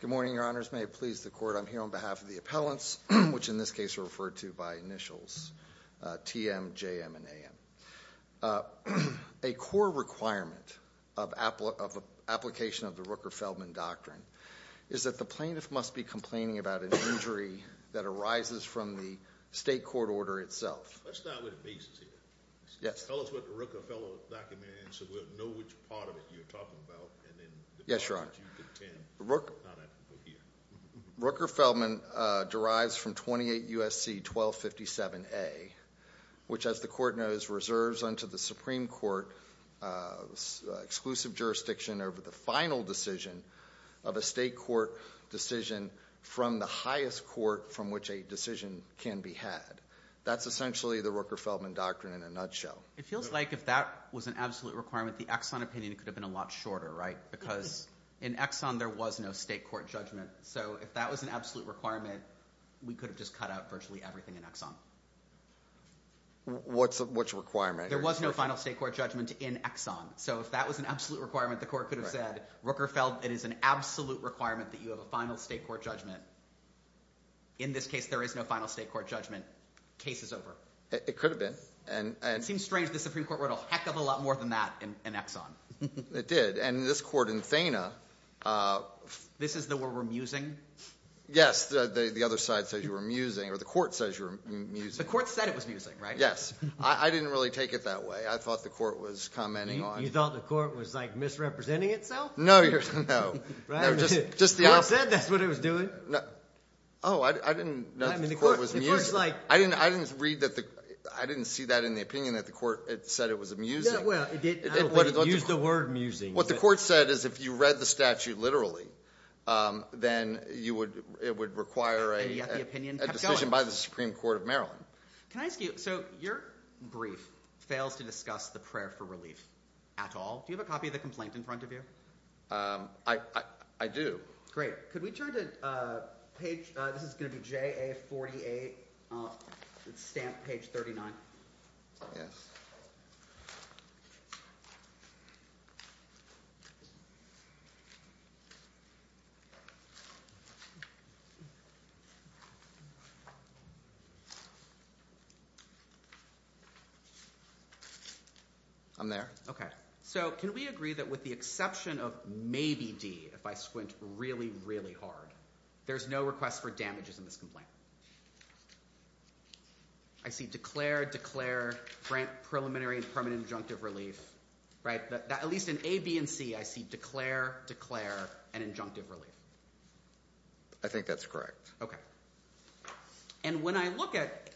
Good morning, your honors. May it please the court, I'm here on behalf of the appellants, which in this case are referred to by initials, T.M., J.M., and A.M. A core requirement of application of the Rooker-Feldman Doctrine is that the plaintiff must be complaining about an injury that arises from the state court order itself. Let's start with the basis here. Tell us what the Rooker-Feldman Doctrine is so we'll know which part of it you're talking about. Yes, your honor. Rooker-Feldman derives from 28 U.S.C. 1257A, which as the court knows reserves unto the Supreme Court exclusive jurisdiction over the final decision of a state court decision from the highest court from which a decision can be had. That's essentially the Rooker-Feldman Doctrine in a nutshell. It feels like if that was an absolute requirement, the Exxon opinion could have been a lot shorter, right? Because in Exxon there was no state court judgment. So if that was an absolute requirement, we could have just cut out virtually everything in Exxon. Which requirement? There was no final state court judgment in Exxon. So if that was an absolute requirement, the court could have said, Rooker-Feldman, it is an absolute requirement that you have a final state court judgment. In this case, there is no final state court judgment. Case is over. It could have been. It seems strange the Supreme Court wrote a heck of a lot more than that in Exxon. It did. And this court in Thena... This is the word we're musing? Yes. The other side says you were musing or the court says you were musing. The court said it was musing, right? Yes. I didn't really take it that way. I thought the court was commenting on... You thought the court was like misrepresenting itself? No. No. Just the opposite. You said that's what it was doing. Oh, I didn't know the court was musing. I didn't read that. I didn't see that in the opinion that the court said it was musing. Well, it did use the word musing. What the court said is if you read the statute literally, then it would require a decision by the Supreme Court of Maryland. Can I ask you, so your brief fails to discuss the prayer for relief at all. Do you have a copy of the complaint in front of you? I do. Great. Could we turn to page... This is going to be JA-48. It's stamped page 39. Yes. I'm there. Okay. So can we agree that with the exception of ABD, if I squint really, really hard, there's no request for damages in this complaint? I see declare, declare, preliminary and permanent injunctive relief, right? At least in A, B, and C, I see declare, declare, and injunctive relief. I think that's correct. Okay. And when I look at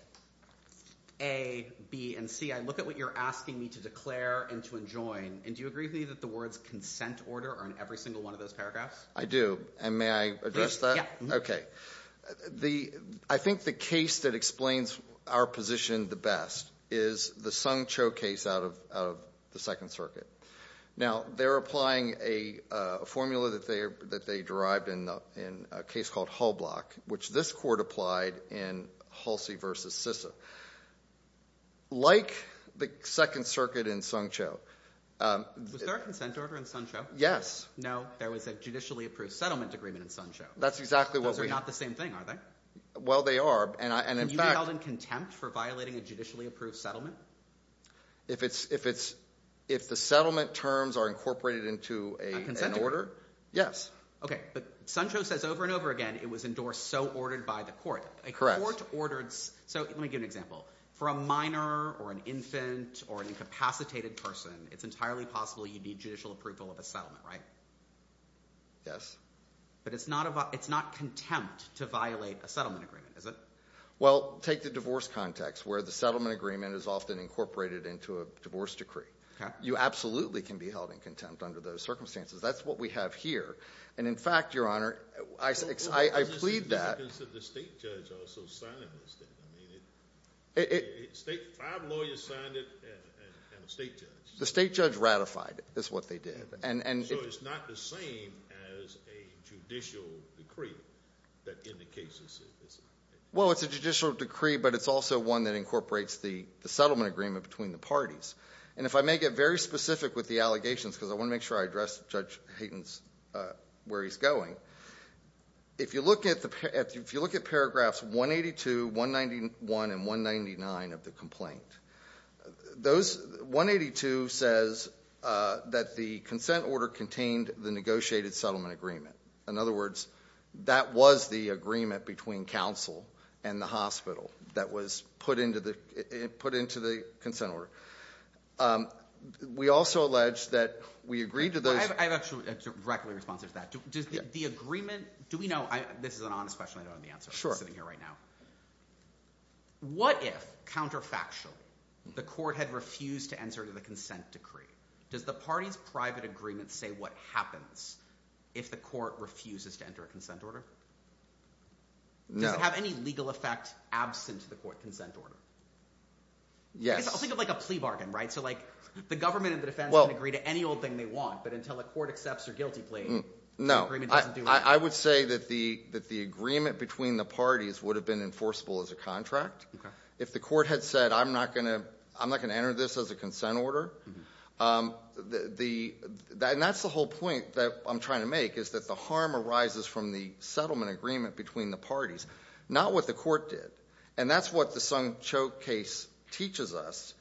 A, B, and C, I look at what you're asking me to declare and to enjoin, and do you agree with me that the words consent order are in every single one of those paragraphs? I do. And may I address that? Okay. I think the case that explains our position the best is the Sung Cho case out of the Second Circuit. Now, they're applying a formula that they derived in a case called Hull Block, which this court applied in Halsey versus Sissa. Like the Second Circuit. Was there a consent order in Sung Cho? Yes. No. There was a judicially approved settlement agreement in Sung Cho. That's exactly what we... Those are not the same thing, are they? Well, they are. And in fact... And you held in contempt for violating a judicially approved settlement? If the settlement terms are incorporated into an order, yes. Okay. But Sung Cho says over and over again, it was endorsed so ordered by the court. A court ordered... So let me give you an example. For a minor or an infant or an incapacitated person, it's entirely possible you'd need judicial approval of a settlement, right? Yes. But it's not contempt to violate a settlement agreement, is it? Well, take the divorce context where the settlement agreement is often incorporated into a divorce decree. You absolutely can be held in contempt under those circumstances. That's what we have here. And in fact, Your Honor, I plead that... The state judge also signed it instead. I mean, five lawyers signed it and a state judge. The state judge ratified it. That's what they did. So it's not the same as a judicial decree that indicates it's... Well, it's a judicial decree, but it's also one that incorporates the settlement agreement between the parties. And if I may get very specific with the allegations, because I want to make sure I look at paragraphs 182, 191, and 199 of the complaint. Those... 182 says that the consent order contained the negotiated settlement agreement. In other words, that was the agreement between counsel and the hospital that was put into the consent order. We also allege that we agreed to those... I have a direct response to that. Does the agreement... Do we know... This is an honest question. I don't know the answer. I'm sitting here right now. What if, counterfactually, the court had refused to answer to the consent decree? Does the party's private agreement say what happens if the court refuses to enter a consent order? Does it have any legal effect absent of the court consent order? I'll think of a plea bargain, right? So the government and the defense can agree to any old thing they want, but until the court accepts their guilty plea... No. I would say that the agreement between the parties would have been enforceable as a contract. If the court had said, I'm not going to enter this as a consent order... And that's the whole point that I'm trying to make, is that the harm arises from the settlement agreement between the parties, not what the court did. And that's what the Sung Cho case teaches us.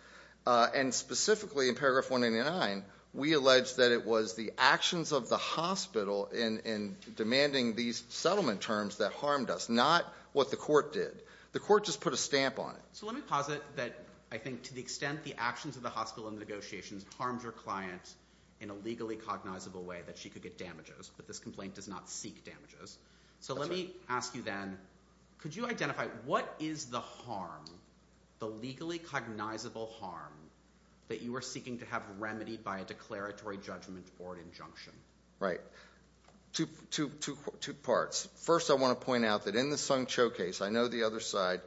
And specifically, in paragraph 189, we allege that it was the actions of the hospital in demanding these settlement terms that harmed us, not what the court did. The court just put a stamp on it. So let me posit that, I think, to the extent the actions of the hospital in the negotiations harmed your client in a legally cognizable way that she could get damages, but this complaint does not seek damages. So let me ask you then, could you identify what is the harm, the legally cognizable harm, that you are seeking to have remedied by a declaratory judgment or injunction? Right. Two parts. First, I want to point out that in the Sung Cho case, I know the other side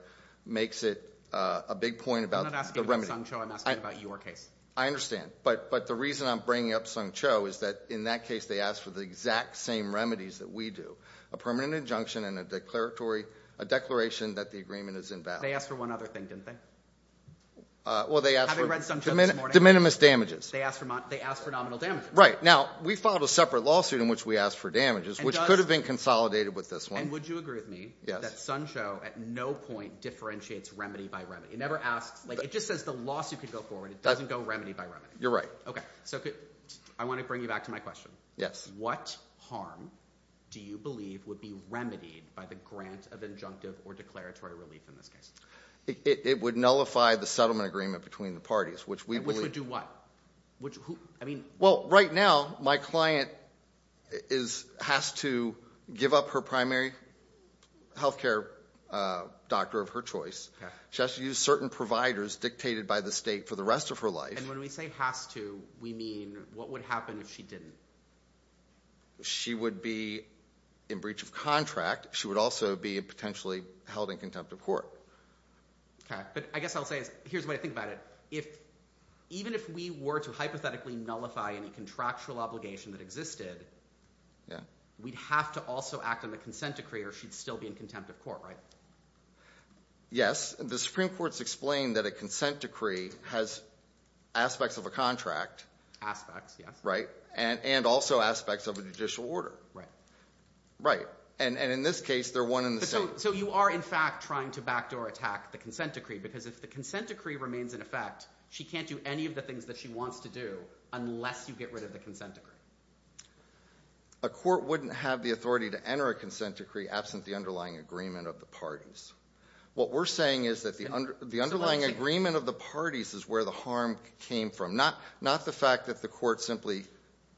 makes it a big point about... I'm not asking about Sung Cho, I'm asking about your case. I understand. But the reason I'm bringing up Sung Cho is that in that case, they asked for the exact same remedies that we do. A permanent injunction and a declaratory, a declaration that the agreement is invalid. They asked for one other thing, didn't they? Well, they asked for... Having read Sung Cho this morning... Diminimous damages. They asked for nominal damages. Right. Now, we filed a separate lawsuit in which we asked for damages, which could have been consolidated with this one. And would you agree with me that Sung Cho at no point differentiates remedy by remedy? It never asks... It just says the lawsuit could go forward. It doesn't go remedy by remedy. You're right. Okay. So I want to bring you back to my question. Yes. What harm do you believe would be remedied by the grant of injunctive or declaratory relief in this case? It would nullify the settlement agreement between the parties, which we believe... Which would do what? I mean... Well, right now, my client has to give up her primary healthcare doctor of her choice. She has to use certain providers dictated by the state for the rest of her life. And when we say has to, we mean what would happen if she didn't? She would be in breach of contract. She would also be potentially held in contempt of court. Okay. But I guess I'll say... Here's the way I think about it. Even if we were to hypothetically nullify any contractual obligation that existed, we'd have to also act on the consent decree or she'd still be in contempt of court, right? Yes. The Supreme Court's explained that a consent decree is a judicial order. Right. Right. And in this case, they're one and the same. So you are, in fact, trying to backdoor attack the consent decree because if the consent decree remains in effect, she can't do any of the things that she wants to do unless you get rid of the consent decree. A court wouldn't have the authority to enter a consent decree absent the underlying agreement of the parties. What we're saying is that the underlying agreement of the parties is where the harm came from. Not the fact that the court simply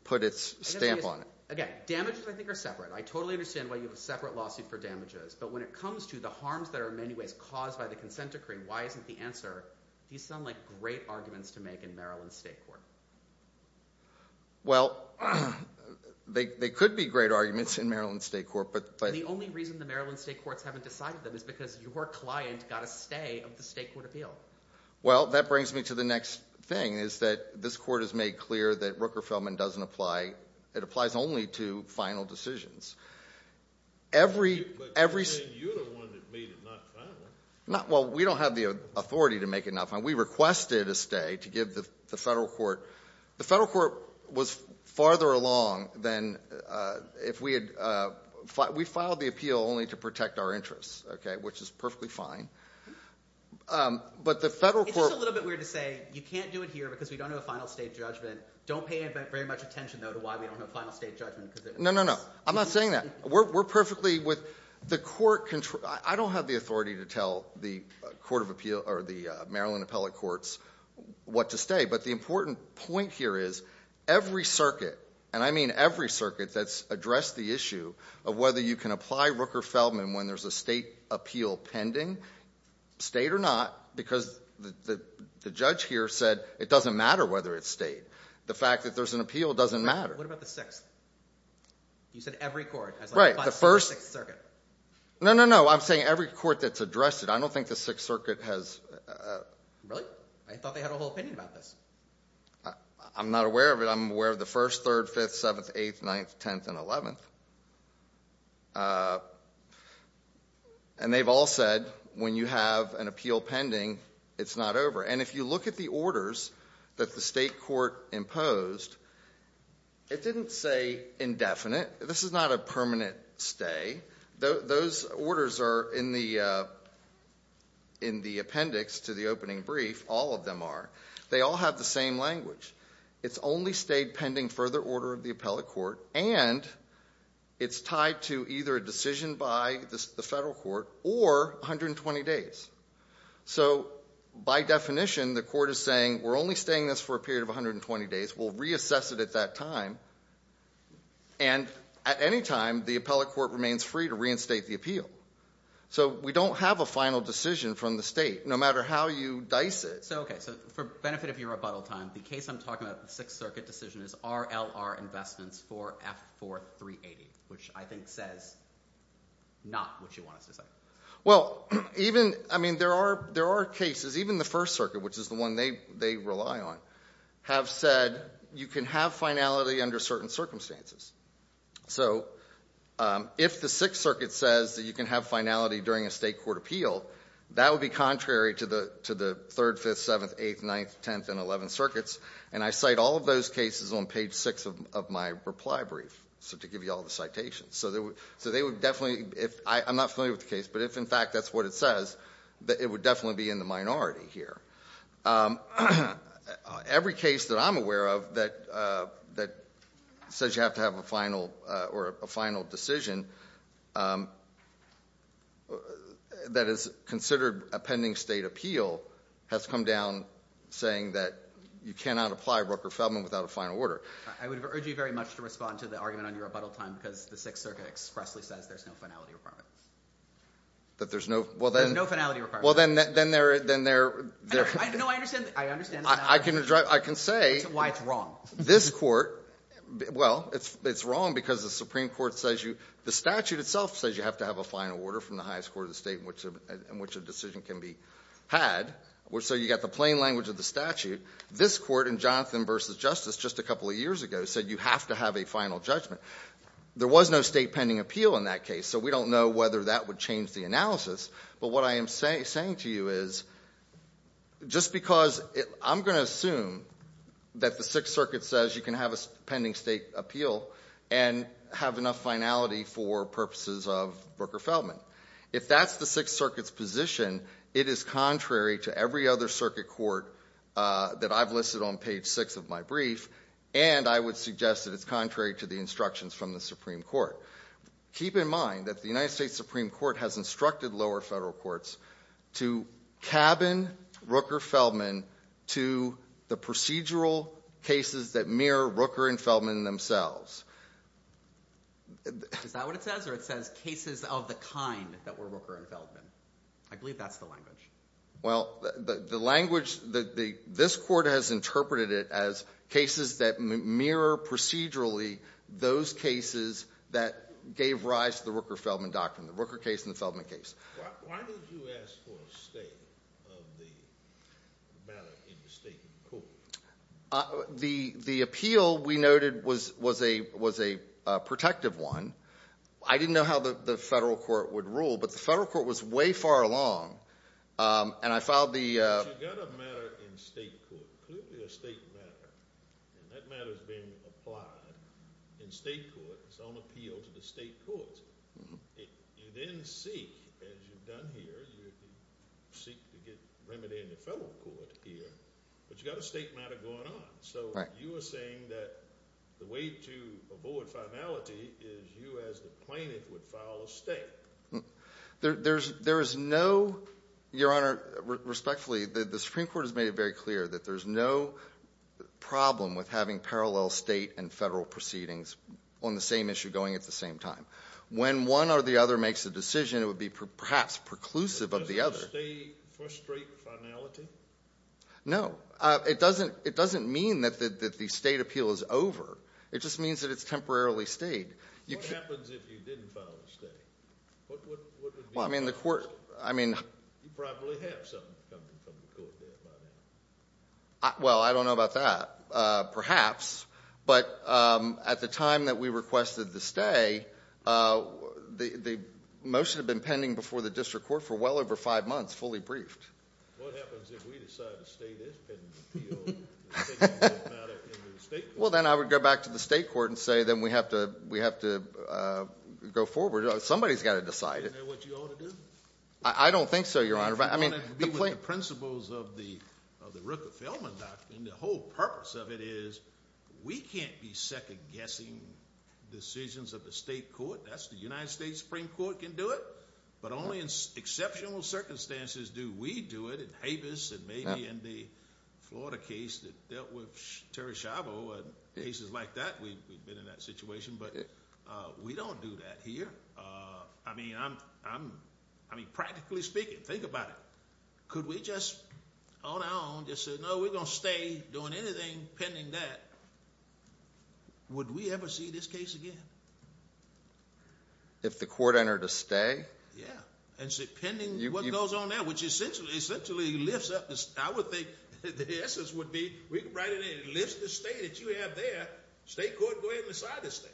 put its stamp on it. Again, damages, I think, are separate. I totally understand why you have a separate lawsuit for damages. But when it comes to the harms that are in many ways caused by the consent decree, why isn't the answer... These sound like great arguments to make in Maryland State Court. Well, they could be great arguments in Maryland State Court, but... The only reason the Maryland State Courts haven't decided them is because your client got a stay of the state court appeal. Well, that brings me to the next thing, is that this court has made clear that Rooker-Feldman doesn't apply... It applies only to final decisions. But you're the one that made it not final. Well, we don't have the authority to make it not final. We requested a stay to give the federal court... The federal court was farther along than if we had... We filed the appeal only to protect our interests, which is perfectly fine. But the federal court... It's just a little bit weird to say, you can't do it here because we don't have a final state judgment. Don't pay very much attention, though, to why we don't have a final state judgment. No, no, no. I'm not saying that. We're perfectly with the court... I don't have the authority to tell the Maryland Appellate Courts what to stay. But the important point here is every circuit, and I mean every circuit that's addressed the issue of whether you can apply Rooker-Feldman when there's a state appeal pending, stayed or not, because the judge here said it doesn't matter whether it stayed. The fact that there's an appeal doesn't matter. What about the Sixth? You said every court has... Right. The First... No, no, no. I'm saying every court that's addressed it. I don't think the Sixth Circuit has... Really? I thought they had a whole opinion about this. I'm not aware of it. I'm aware of the First, Third, Fifth, Seventh, Eighth, Ninth, Tenth, and Eleventh. And they've all said when you have an appeal pending, it's not over. And if you look at the orders that the state court imposed, it didn't say indefinite. This is not a permanent stay. Those orders are in the appendix to the opening brief. All of them are. They all have the same language. It's only stayed pending further order of the appellate court, and it's tied to either a decision by the federal court or 120 days. So by definition, the court is saying, we're only staying this for a period of 120 days. We'll reassess it at that time. And at any time, the appellate court remains free to reinstate the appeal. So we don't have a final decision from the state, no matter how you dice it. Okay, so for benefit of your rebuttal time, the case I'm talking about, the Sixth Circuit decision, is RLR investments for F4380, which I think says not what you want us to say. I mean, there are cases, even the First Circuit, which is the one they rely on, have said you can have finality under certain circumstances. So if the Sixth Circuit says that you can have finality during a state court appeal, that would be contrary to the 3rd, 5th, 7th, 8th, 9th, 10th, and 11th circuits. And I cite all of those cases on page six of my reply brief, so to give you all the citations. So they would definitely, I'm not familiar with the case, but if in fact that's what it says, that it would definitely be in the minority here. Every case that I'm aware of that says you have to have a final decision, that is considered a pending state appeal, has come down saying that you cannot apply Rooker-Feldman without a final order. I would urge you very much to respond to the argument on your rebuttal time, because the Sixth Circuit expressly says there's no finality requirement. That there's no, well then, there's no finality requirement. Well then, then there, then there, no, I understand, I understand. I can, I can say why it's wrong. This court, well, it's, it's wrong because the Supreme Court says you, the statute itself says you have to have a final order from the highest court of the state in which a decision can be had. So you got the plain language of the statute. This court in Jonathan versus Justice just a couple of years ago said you have to have a final judgment. There was no state pending appeal in that case, so we don't know whether that would change the analysis. But what I am saying to you is, just because I'm going to assume that the Sixth Circuit says you can have a pending state appeal and have enough finality for purposes of Rooker-Feldman. If that's the Sixth Circuit's position, it is contrary to every other circuit court that I've listed on page six of my brief. And I would suggest that it's contrary to the instructions from the Supreme Court. Keep in mind that the United States Supreme Court has instructed lower federal courts to cabin Rooker-Feldman to the procedural cases that mirror Rooker and Feldman themselves. Is that what it says, or it says cases of the kind that were Rooker and Feldman? I believe that's the language. Well, the language, this court has interpreted it as cases that mirror procedurally those cases that gave rise to the Rooker-Feldman doctrine, the Rooker case and the Feldman case. Why did you ask for a stay of the matter in the state court? The appeal, we noted, was a protective one. I didn't know how the federal court would rule, but the federal court was way far along. And I filed the- But you got a matter in state court, clearly a state matter, and that matter's been applied in state court. It's on appeal to the state courts. You then seek, as you've done here, you seek to get remedy in the federal court here, but you got a state matter going on. So you were saying that the way to avoid finality is you as the plaintiff would file a state. There is no, your honor, respectfully, the Supreme Court has made it very clear that there's no problem with having parallel state and federal proceedings on the same issue going at the same time. When one or the other makes a decision, it would be perhaps preclusive of the other. Does the state frustrate finality? No, it doesn't mean that the state appeal is over. It just means that it's temporarily stayed. What happens if you didn't file a stay? What would be the outcome? Well, I mean the court, I mean- You probably have something coming from the court there by now. Well, I don't know about that, perhaps. But at the time that we requested the stay, the motion had been pending before the district court for well over five months, fully briefed. What happens if we decide to stay this pending appeal? Think about it in the state court. Well, then I would go back to the state court and say, then we have to go forward. Somebody's got to decide it. Isn't that what you ought to do? I don't think so, your honor. But I mean, the point- The principles of the Rooker-Feldman document, and the whole purpose of it is, we can't be second guessing decisions of the state court. That's the United States Supreme Court can do it. But only in exceptional circumstances do we do it. In Havis and maybe in the Florida case that dealt with Terry Schiavo and cases like that, we've been in that situation, but we don't do that here. I mean, practically speaking, think about it. Could we just, on our own, just say, no, we're going to stay doing anything pending that. Would we ever see this case again? If the court entered a stay? Yeah, and say, pending what goes on there, which essentially lifts up this. I would think that the essence would be, we could write it in, it lifts the stay that you have there. State court go ahead and decide to stay.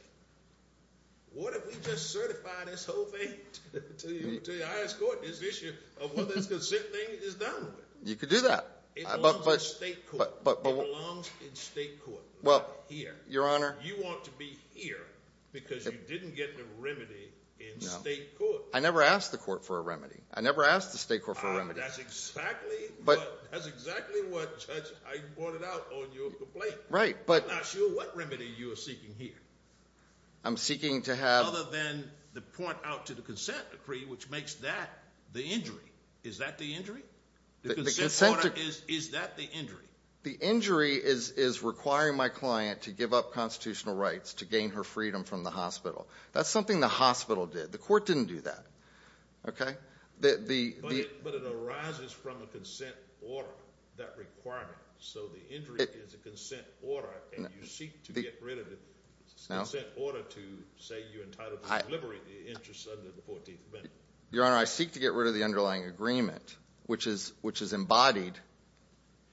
What if we just certify this whole thing to the highest court? This issue of whether it's a consent thing is done with. You could do that. It belongs in state court. It belongs in state court, not here. Your Honor- You want to be here because you didn't get the remedy in state court. I never asked the court for a remedy. I never asked the state court for a remedy. That's exactly what, Judge, I brought it out on your complaint. Right, but- I'm not sure what remedy you are seeking here. I'm seeking to have- Other than the point out to the consent decree, which makes that the injury. Is that the injury? The consent order, is that the injury? The injury is requiring my client to give up constitutional rights to gain her freedom from the hospital. That's something the hospital did. The court didn't do that. Okay? The- But it arises from a consent order, that requirement. So the injury is a consent order, and you seek to get rid of the consent order to say you're entitled to delivery of the interest under the 14th Amendment. Your Honor, I seek to get rid of the underlying agreement, which is embodied,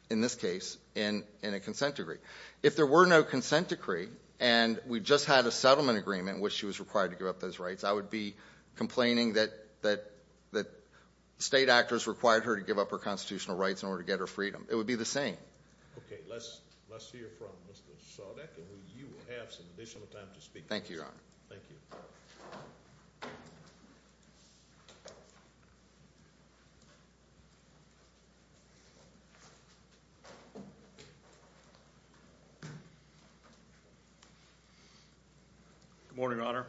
in this case, in a consent decree. If there were no consent decree, and we just had a settlement agreement in which she was required to give up those rights, I would be complaining that state actors required her to give up her constitutional rights in order to get her freedom. It would be the same. Okay, let's hear from Mr. Sawdeck, and you will have some additional time to speak. Thank you, Your Honor. Thank you. Good morning, Your Honor,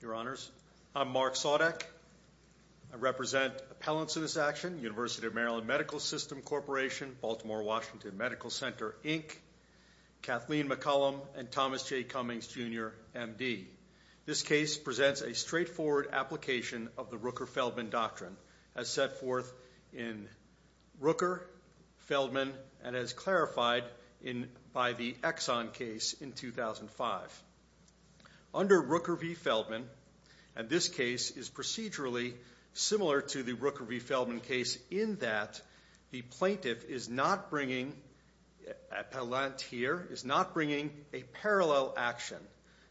Your Honors. I'm Mark Sawdeck. I represent appellants in this action, University of Maryland Medical System Corporation, Baltimore-Washington Medical Center, Inc., Kathleen McCollum, and Thomas J. Cummings, Jr., M.D. This case presents a straightforward application of the Rooker-Feldman Doctrine, as set forth in Rooker, Feldman, and as clarified by the Exxon case in 2005. Under Rooker v. Feldman, and this case is procedurally similar to the Rooker v. Feldman case in that the plaintiff is not bringing, appellant here, is not bringing a parallel action,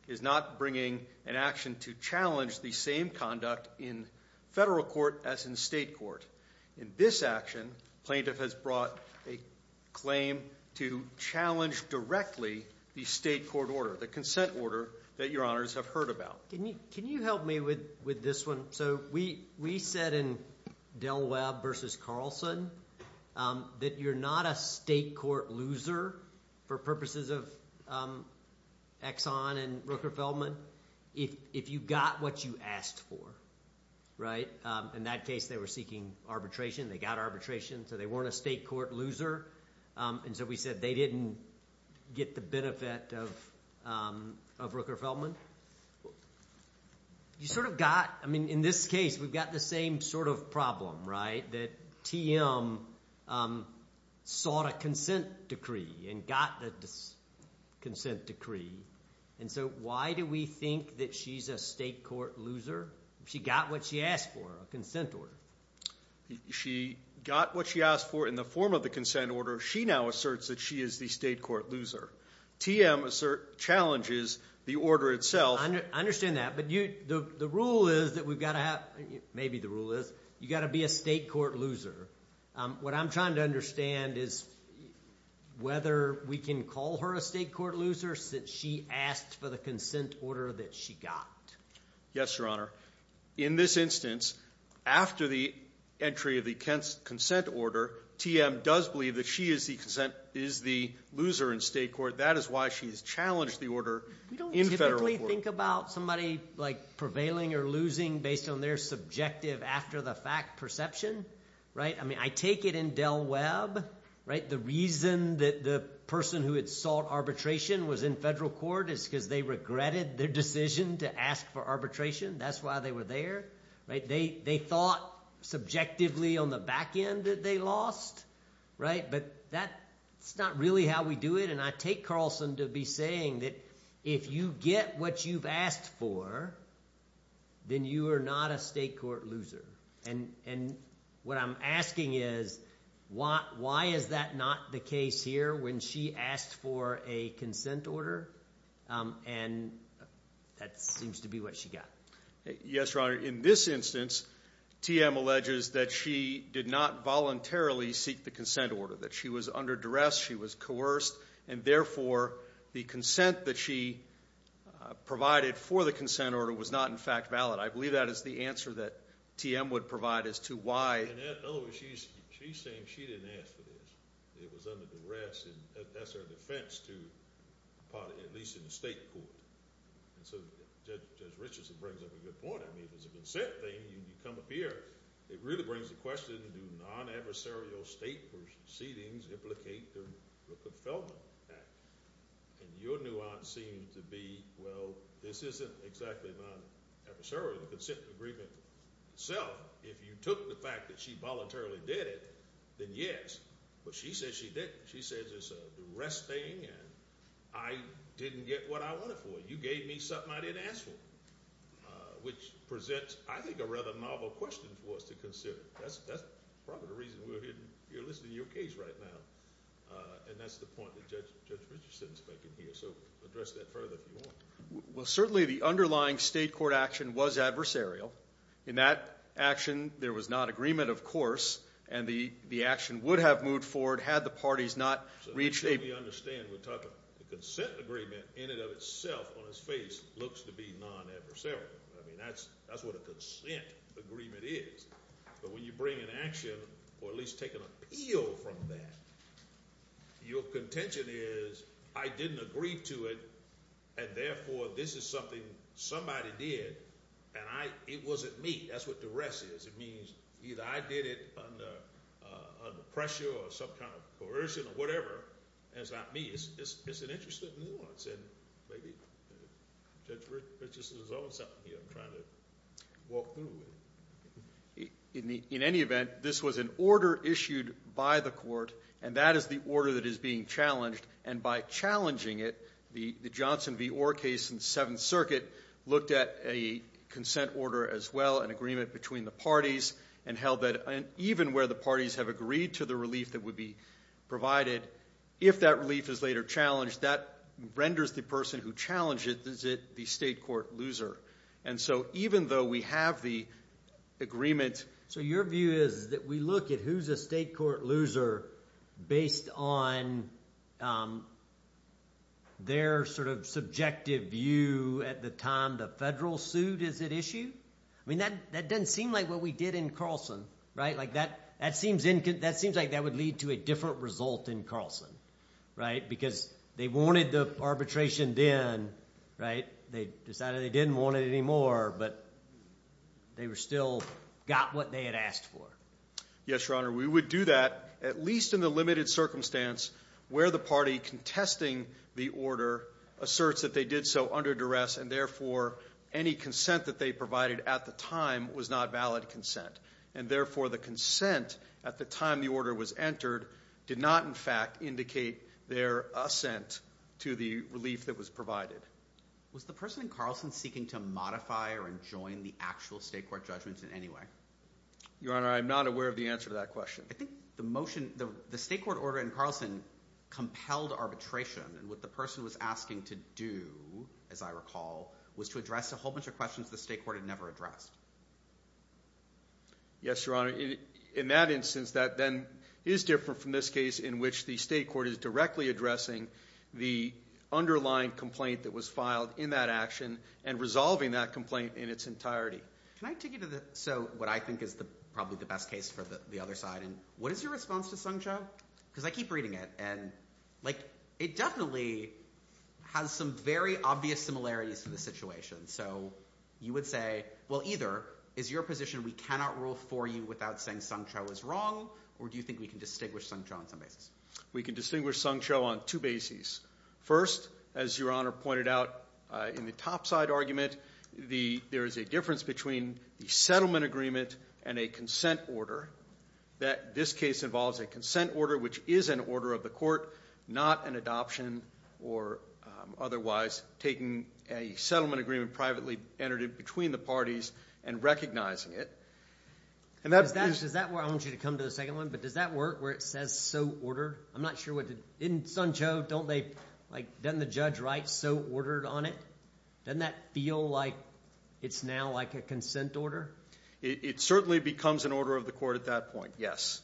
is not bringing an action to challenge the same conduct in federal court as in state court. In this action, plaintiff has brought a claim to challenge directly the state court order, the consent order that Your Honors have heard about. Can you help me with this one? So we said in Del Webb v. Carlson that you're not a state court loser for purposes of Exxon and Rooker-Feldman if you got what you asked for, right? In that case, they were seeking arbitration. They got arbitration, so they weren't a state court loser. And so we said they didn't get the benefit of Rooker-Feldman. You sort of got, I mean, in this case, we've got the same sort of problem, right? That TM sought a consent decree and got the consent decree. And so why do we think that she's a state court loser? She got what she asked for, a consent order. She got what she asked for in the form of the consent order. She now asserts that she is the state court loser. TM challenges the order itself. I understand that, but the rule is that we've got to have, maybe the rule is, you've got to be a state court loser. What I'm trying to understand is whether we can call her a state court loser since she asked for the consent order that she got. Yes, Your Honor. In this instance, after the entry of the consent order, TM does believe that she is the loser in state court. That is why she has challenged the order in federal court. We don't typically think about somebody prevailing or losing based on their subjective after the fact perception, right? I mean, I take it in Del Webb, right? The reason that the person who had sought arbitration was in federal court is because they regretted their decision to ask for arbitration. That's why they were there, right? They thought subjectively on the back end that they lost, right? But that's not really how we do it. And I take Carlson to be saying that if you get what you've asked for, then you are not a state court loser. And what I'm asking is, why is that not the case here when she asked for a consent order and that seems to be what she got? Yes, Your Honor. In this instance, TM alleges that she did not voluntarily seek the consent order, that she was under duress, she was coerced, and therefore, the consent that she provided for the consent order was not in fact valid. I believe that is the answer that TM would provide as to why. In other words, she's saying she didn't ask for this. It was under duress and that's her defense to at least in the state court. And so Judge Richardson brings up a good point. I mean, if it's a consent thing, you come up here, it really brings the question, do non-adversarial state proceedings implicate the Rockefeller Act? And your nuance seems to be, well, this isn't exactly non-adversarial, the consent agreement itself. If you took the fact that she voluntarily did it, then yes, but she says she didn't. She says it's a duress thing and I didn't get what I wanted for it. You gave me something I didn't ask for, which presents, I think, a rather novel question for us to consider. That's probably the reason we're here listening to your case right now. And that's the point that Judge Richardson's making here. So address that further if you want. Well, certainly the underlying state court action was adversarial. In that action, there was not agreement, of course, and the action would have moved forward had the parties not reached a- His face looks to be non-adversarial. I mean, that's what a consent agreement is. But when you bring an action or at least take an appeal from that, your contention is, I didn't agree to it and therefore this is something somebody did and it wasn't me. That's what duress is. It means either I did it under pressure or some kind of coercion or whatever, and it's not me. It's an interesting nuance and maybe Judge Richardson is over something here. I'm trying to walk through it. In any event, this was an order issued by the court, and that is the order that is being challenged. And by challenging it, the Johnson v. Orr case in the Seventh Circuit looked at a consent order as well, an agreement between the parties, and held that even where the parties have agreed to the relief that would be provided, if that relief is later challenged, that renders the person who challenged it the state court loser. And so even though we have the agreement- So your view is that we look at who's a state court loser based on their sort of subjective view at the time the federal suit is at issue? I mean, that doesn't seem like what we did in Carlson, right? That seems like that would lead to a different result in Carlson, right? Because they wanted the arbitration then, right? They decided they didn't want it anymore, but they still got what they had asked for. Yes, Your Honor. We would do that, at least in the limited circumstance where the party contesting the order asserts that they did so under duress, and therefore any consent that they provided at the time was not valid consent. And therefore the consent at the time the order was entered did not in fact indicate their assent to the relief that was provided. Was the person in Carlson seeking to modify or enjoin the actual state court judgments in any way? Your Honor, I'm not aware of the answer to that question. I think the motion, the state court order in Carlson compelled arbitration. And what the person was asking to do, as I recall, was to address a whole bunch of questions the state court had never addressed. Yes, Your Honor. In that instance, that then is different from this case in which the state court is directly addressing the underlying complaint that was filed in that action and resolving that complaint in its entirety. Can I take you to what I think is probably the best case for the other side? And what is your response to Sung Cho? Because I keep reading it, and it definitely has some very obvious similarities to the situation. So you would say, well, either is your position we cannot rule for you without saying Sung Cho is wrong, or do you think we can distinguish Sung Cho on some basis? We can distinguish Sung Cho on two bases. First, as Your Honor pointed out in the topside argument, there is a difference between the settlement agreement and a consent order. This case involves a consent order, which is an order of the court, not an adoption or otherwise taking a settlement agreement privately entered in between the parties and recognizing it. Does that work? I want you to come to the second one. But does that work where it says so ordered? I'm not sure. In Sung Cho, doesn't the judge write so ordered on it? Doesn't that feel like it's now like a consent order? It certainly becomes an order of the court. Yes.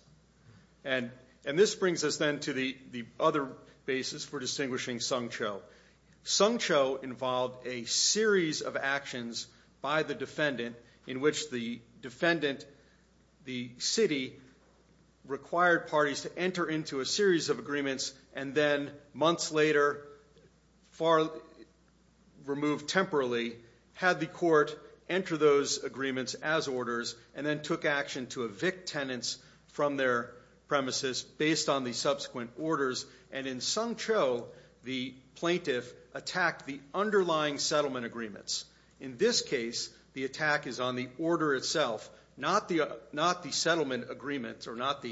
And this brings us then to the other basis for distinguishing Sung Cho. Sung Cho involved a series of actions by the defendant in which the defendant, the city, required parties to enter into a series of agreements and then months later, far removed temporarily, had the court enter those agreements as orders and then took action to evict tenants from their premises based on the subsequent orders. And in Sung Cho, the plaintiff attacked the underlying settlement agreements. In this case, the attack is on the order itself, not the settlement agreements or not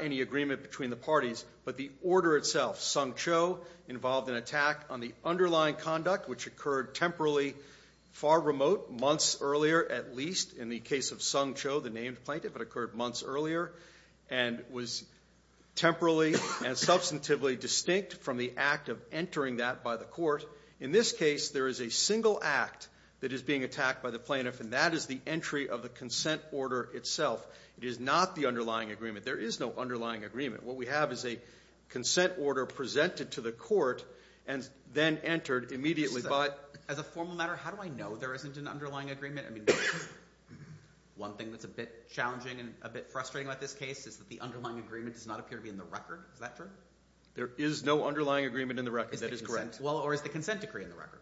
any agreement between the parties, but the order itself. Sung Cho involved an attack on the underlying conduct which occurred temporarily, far remote, months earlier at least in the case of Sung Cho, the named plaintiff. It occurred months earlier and was temporarily and substantively distinct from the act of entering that by the court. In this case, there is a single act that is being attacked by the plaintiff and that is the entry of the consent order itself. It is not the underlying agreement. There is no underlying agreement. What we have is a consent order presented to the court and then entered immediately. As a formal matter, how do I know there isn't an underlying agreement? One thing that's a bit challenging and a bit frustrating about this case is that the underlying agreement does not appear to be in the record. Is that true? There is no underlying agreement in the record. That is correct. Or is the consent decree in the record?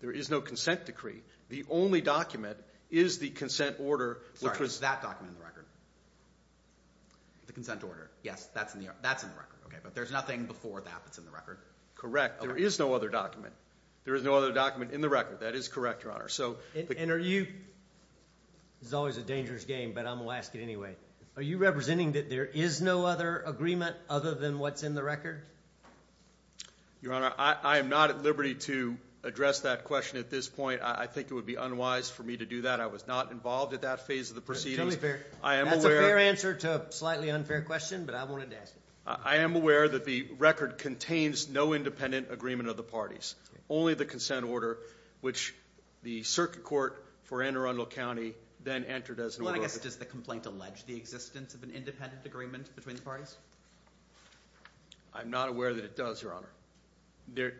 There is no consent decree. The only document is the consent order. Which was that document in the record? The consent order. Yes, that's in the record. But there's nothing before that that's in the record? Correct. There is no other document. There is no other document in the record. That is correct, Your Honor. And are you—this is always a dangerous game, but I'm going to ask it anyway—are you representing that there is no other agreement other than what's in the record? Your Honor, I am not at liberty to address that question at this point. I think it would be unwise for me to do that. I was not involved at that phase of the proceedings. That's a fair answer to a slightly unfair question, but I wanted to ask it. I am aware that the record contains no independent agreement of the parties. Only the consent order, which the circuit court for Anne Arundel County then entered as an order of— Well, I guess, does the complaint allege the existence of an independent agreement between the parties? I'm not aware that it does, Your Honor.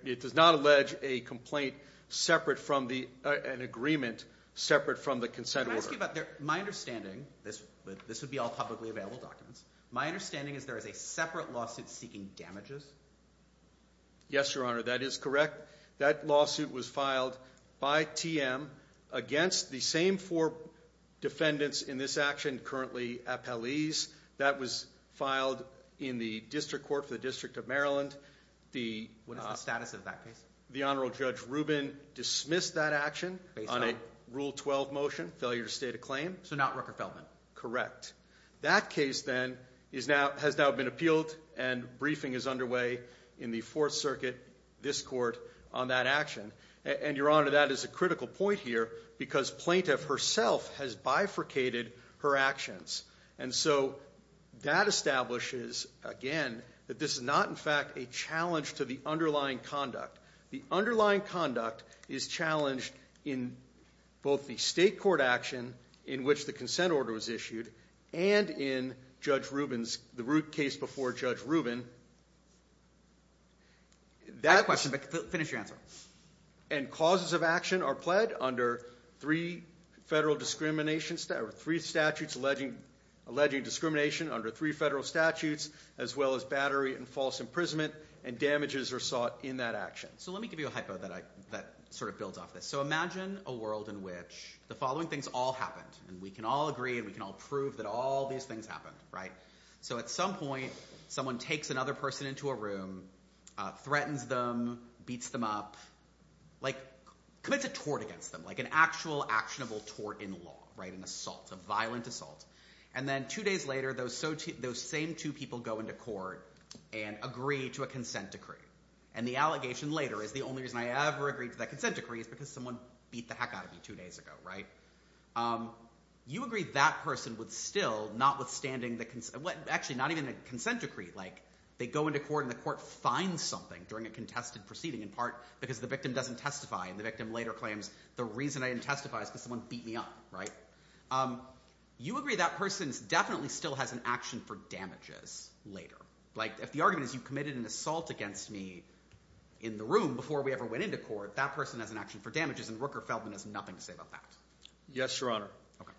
It does not allege a complaint separate from the—an agreement separate from the consent order. Can I ask you about—my understanding—this would be all publicly available documents. My understanding is there is a separate lawsuit seeking damages? Yes, Your Honor, that is correct. That lawsuit was filed by TM against the same four defendants in this action, currently appellees. That was filed in the district court for the District of Maryland. What is the status of that case? The Honorable Judge Rubin dismissed that action on a Rule 12 motion, failure to state a claim. So not Rooker-Feldman? Correct. That case, then, has now been appealed and briefing is underway in the Fourth Circuit, this court, on that action. And, Your Honor, that is a critical point here because plaintiff herself has bifurcated her actions. And so that establishes, again, that this is not, in fact, a challenge to the underlying conduct. The underlying conduct is challenged in both the state court action, in which the consent order was issued, and in Judge Rubin's—the case before Judge Rubin. I have a question, but finish your answer. And causes of action are pled under three federal discriminations—three statutes alleging discrimination under three federal statutes, as well as battery and false imprisonment, and damages are sought in that action. So let me give you a hypo that sort of builds off this. So imagine a world in which the following things all happened, and we can all agree and we can all prove that all these things happened, right? So at some point, someone takes another person into a room, threatens them, beats them up, like commits a tort against them, like an actual actionable tort in law, right? An assault, a violent assault. And then two days later, those same two people go into court and agree to a consent decree. And the allegation later is, the only reason I ever agreed to that consent decree is because someone beat the heck out of me two days ago, right? You agree that person would still, notwithstanding the—actually, not even the consent decree. Like, they go into court and the court finds something during a contested proceeding, in part because the victim doesn't testify and the victim later claims, the reason I didn't testify is because someone beat me up, right? You agree that person definitely still has an action for damages later. Like, if the argument is you committed an assault against me in the room before we ever went into court, that person has an action for damages, and Rooker-Feldman has nothing to say about that. Yes, Your Honor.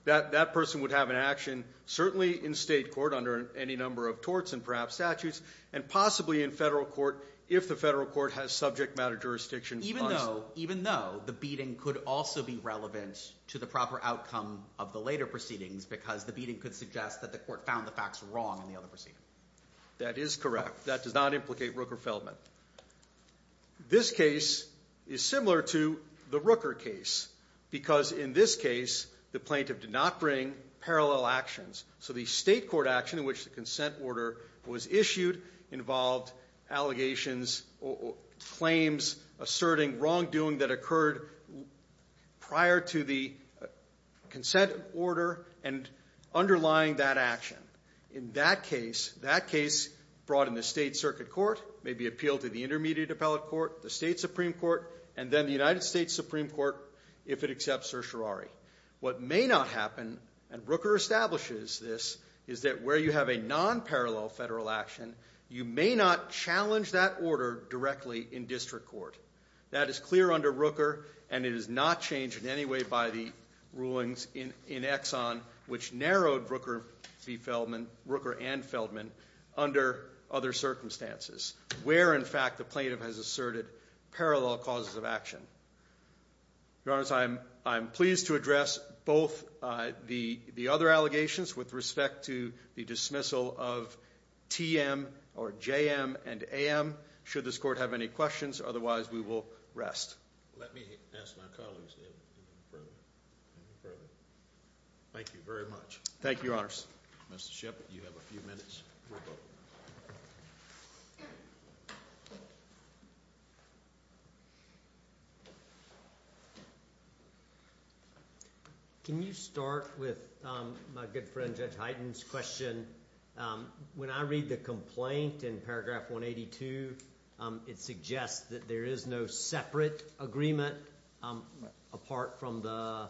That person would have an action, certainly in state court under any number of torts and perhaps statutes, and possibly in federal court if the federal court has subject matter jurisdictions— Even though, even though, the beating could also be relevant to the proper outcome of the later proceedings because the beating could suggest that the court found the facts wrong in the other proceeding. That is correct. That does not implicate Rooker-Feldman. This case is similar to the Rooker case because in this case the plaintiff did not bring parallel actions. So the state court action in which the consent order was issued involved allegations, claims asserting wrongdoing that occurred prior to the consent order and underlying that action. In that case, that case brought in the state circuit court may be appealed to the intermediate appellate court, the state supreme court, and then the United States Supreme Court if it accepts certiorari. What may not happen, and Rooker establishes this, is that where you have a non-parallel federal action, you may not challenge that order directly in district court. That is clear under Rooker, and it is not changed in any way by the rulings in Exxon, which narrowed Rooker-Feldman, Rooker and Feldman, under other circumstances, where in fact the plaintiff has asserted parallel causes of action. Your Honor, I am pleased to address both the other allegations with respect to the dismissal of TM or JM and AM. Should this court have any questions, otherwise we will rest. Let me ask my colleagues to go further. Thank you very much. Thank you, Your Honor. Mr. Shepard, you have a few minutes. Can you start with my good friend Judge Heiden's question? When I read the complaint in paragraph 182, it suggests that there is no separate agreement apart from the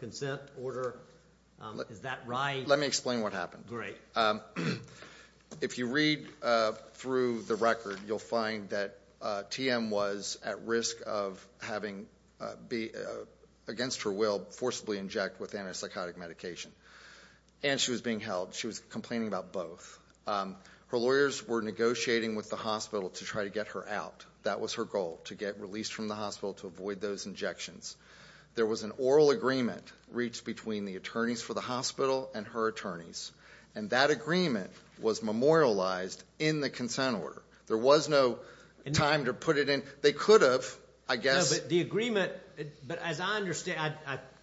consent order. Is that right? Let me explain what happened. Great. If you read through the record, you'll find that TM was at risk of having, against her will, forcibly inject with antipsychotic medication. And she was being held. She was complaining about both. Her lawyers were negotiating with the hospital to try to get her out. That was her goal, to get released from the hospital to avoid those injections. There was an oral agreement reached between the attorneys for the hospital and her attorneys. And that agreement was memorialized in the consent order. There was no time to put it in. They could have, I guess. The agreement, but as I understand,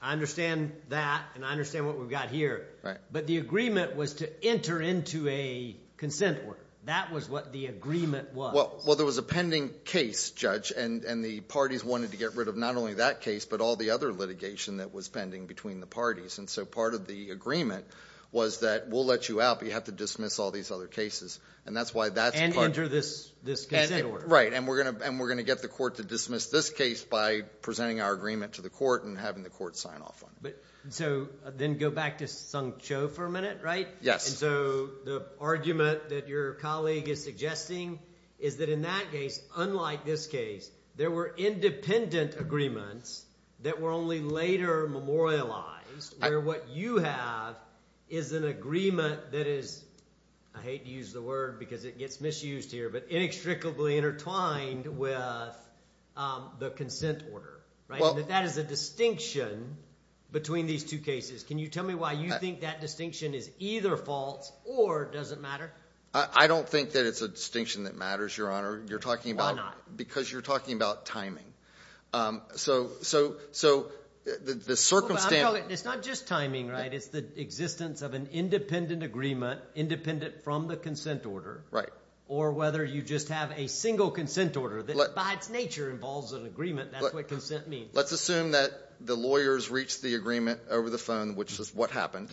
I understand that and I understand what we've got here. But the agreement was to enter into a consent order. That was what the agreement was. Well, there was a pending case, Judge, and the parties wanted to get rid of not only that case, but all the other litigation that was pending between the parties. And so part of the agreement was that we'll let you out, but you have to dismiss all these other cases. And that's why that's part. And enter this consent order. Right. And we're going to get the court to dismiss this case by presenting our agreement to the court and having the court sign off on it. So then go back to Sung Cho for a minute, right? Yes. So the argument that your colleague is suggesting is that in that case, unlike this case, there were independent agreements that were only later memorialized, where what you have is an agreement that is, I hate to use the word because it gets misused here, but inextricably intertwined with the consent order. That is a distinction between these two cases. Can you tell me why you think that distinction is either false or doesn't matter? I don't think that it's a distinction that matters, Your Honor. Why not? Because you're talking about timing. So the circumstance— It's not just timing, right? It's the existence of an independent agreement, independent from the consent order. Right. Or whether you just have a single consent order that by its nature involves an agreement. That's what consent means. Let's assume that the lawyers reached the agreement over the phone, which is what happened.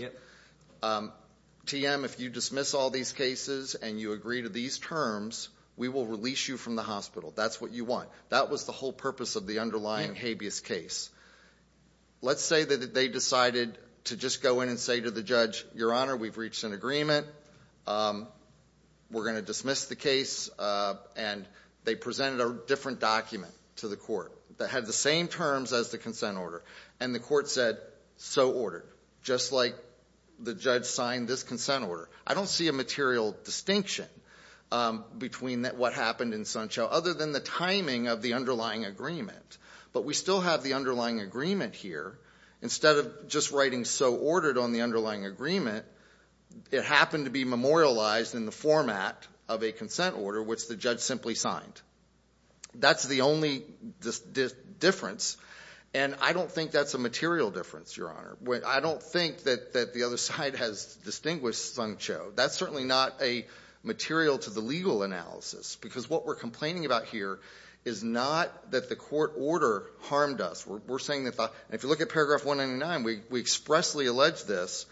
TM, if you dismiss all these cases and you agree to these terms, we will release you from the hospital. That's what you want. That was the whole purpose of the underlying habeas case. Let's say that they decided to just go in and say to the judge, Your Honor, we've reached an agreement. We're going to dismiss the case. And they presented a different document to the court that had the same terms as the consent order. And the court said, so ordered, just like the judge signed this consent order. I don't see a material distinction between what happened in Sunchow other than the timing of the underlying agreement. But we still have the underlying agreement here. Instead of just writing so ordered on the underlying agreement, it happened to be memorialized in the format of a consent order, which the judge simply signed. That's the only difference. And I don't think that's a material difference, Your Honor. I don't think that the other side has distinguished Sunchow. That's certainly not a material to the legal analysis. Because what we're complaining about here is not that the court order harmed us. We're saying that if you look at paragraph 199, we expressly allege this.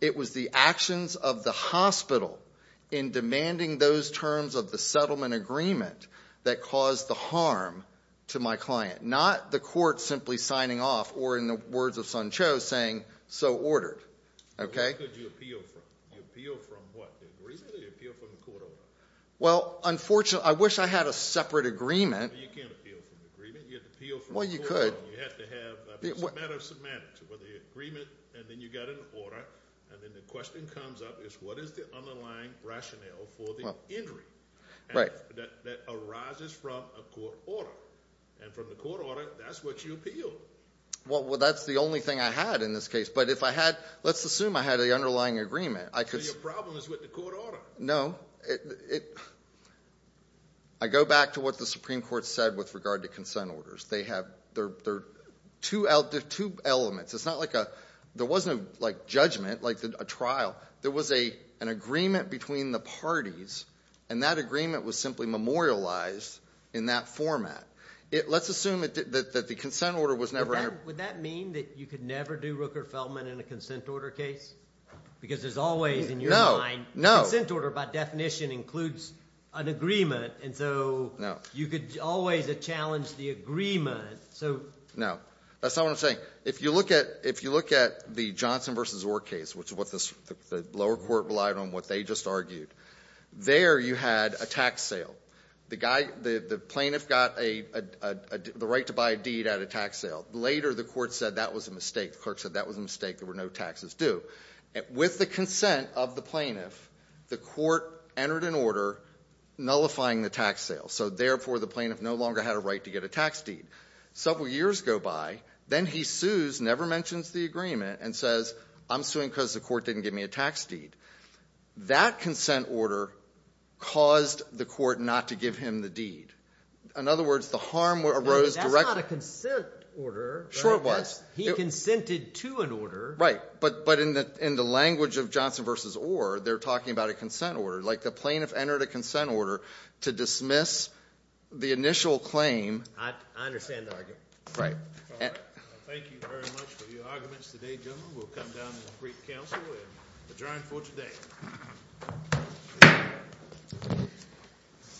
It was the actions of the hospital in demanding those terms of the settlement agreement that caused the harm to my client. Not the court simply signing off or, in the words of Sunchow, saying, so ordered. Okay? Where could you appeal from? You appeal from what? The agreement or you appeal from the court order? Well, unfortunately, I wish I had a separate agreement. You can't appeal from the agreement. You have to appeal from the court order. Well, you could. You have to have a matter of semantics where the agreement and then you get an order, and then the question comes up is what is the underlying rationale for the injury that arises from a court order? And from the court order, that's what you appealed. Well, that's the only thing I had in this case. But if I had ‑‑ let's assume I had the underlying agreement. So your problem is with the court order. No. I go back to what the Supreme Court said with regard to consent orders. They're two elements. It's not like a ‑‑ there wasn't a judgment, like a trial. There was an agreement between the parties, and that agreement was simply memorialized in that format. Let's assume that the consent order was never ‑‑ Would that mean that you could never do Rooker-Feldman in a consent order case? Because there's always in your mind ‑‑ No, no. The consent order, by definition, includes an agreement. And so you could always challenge the agreement. No. That's not what I'm saying. If you look at the Johnson v. Orr case, which the lower court relied on what they just argued, there you had a tax sale. The plaintiff got the right to buy a deed at a tax sale. Later the court said that was a mistake. The clerk said that was a mistake. There were no taxes due. With the consent of the plaintiff, the court entered an order nullifying the tax sale. So, therefore, the plaintiff no longer had a right to get a tax deed. Several years go by. Then he sues, never mentions the agreement, and says, I'm suing because the court didn't give me a tax deed. That consent order caused the court not to give him the deed. In other words, the harm arose directly. That's not a consent order. Sure it was. He consented to an order. Right. But in the language of Johnson v. Orr, they're talking about a consent order. Like the plaintiff entered a consent order to dismiss the initial claim. I understand the argument. Right. Thank you very much for your arguments today, gentlemen. We'll come down and brief counsel and adjourn for today.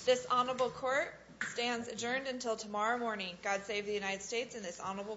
This honorable court stands adjourned until tomorrow morning. God save the United States and this honorable court.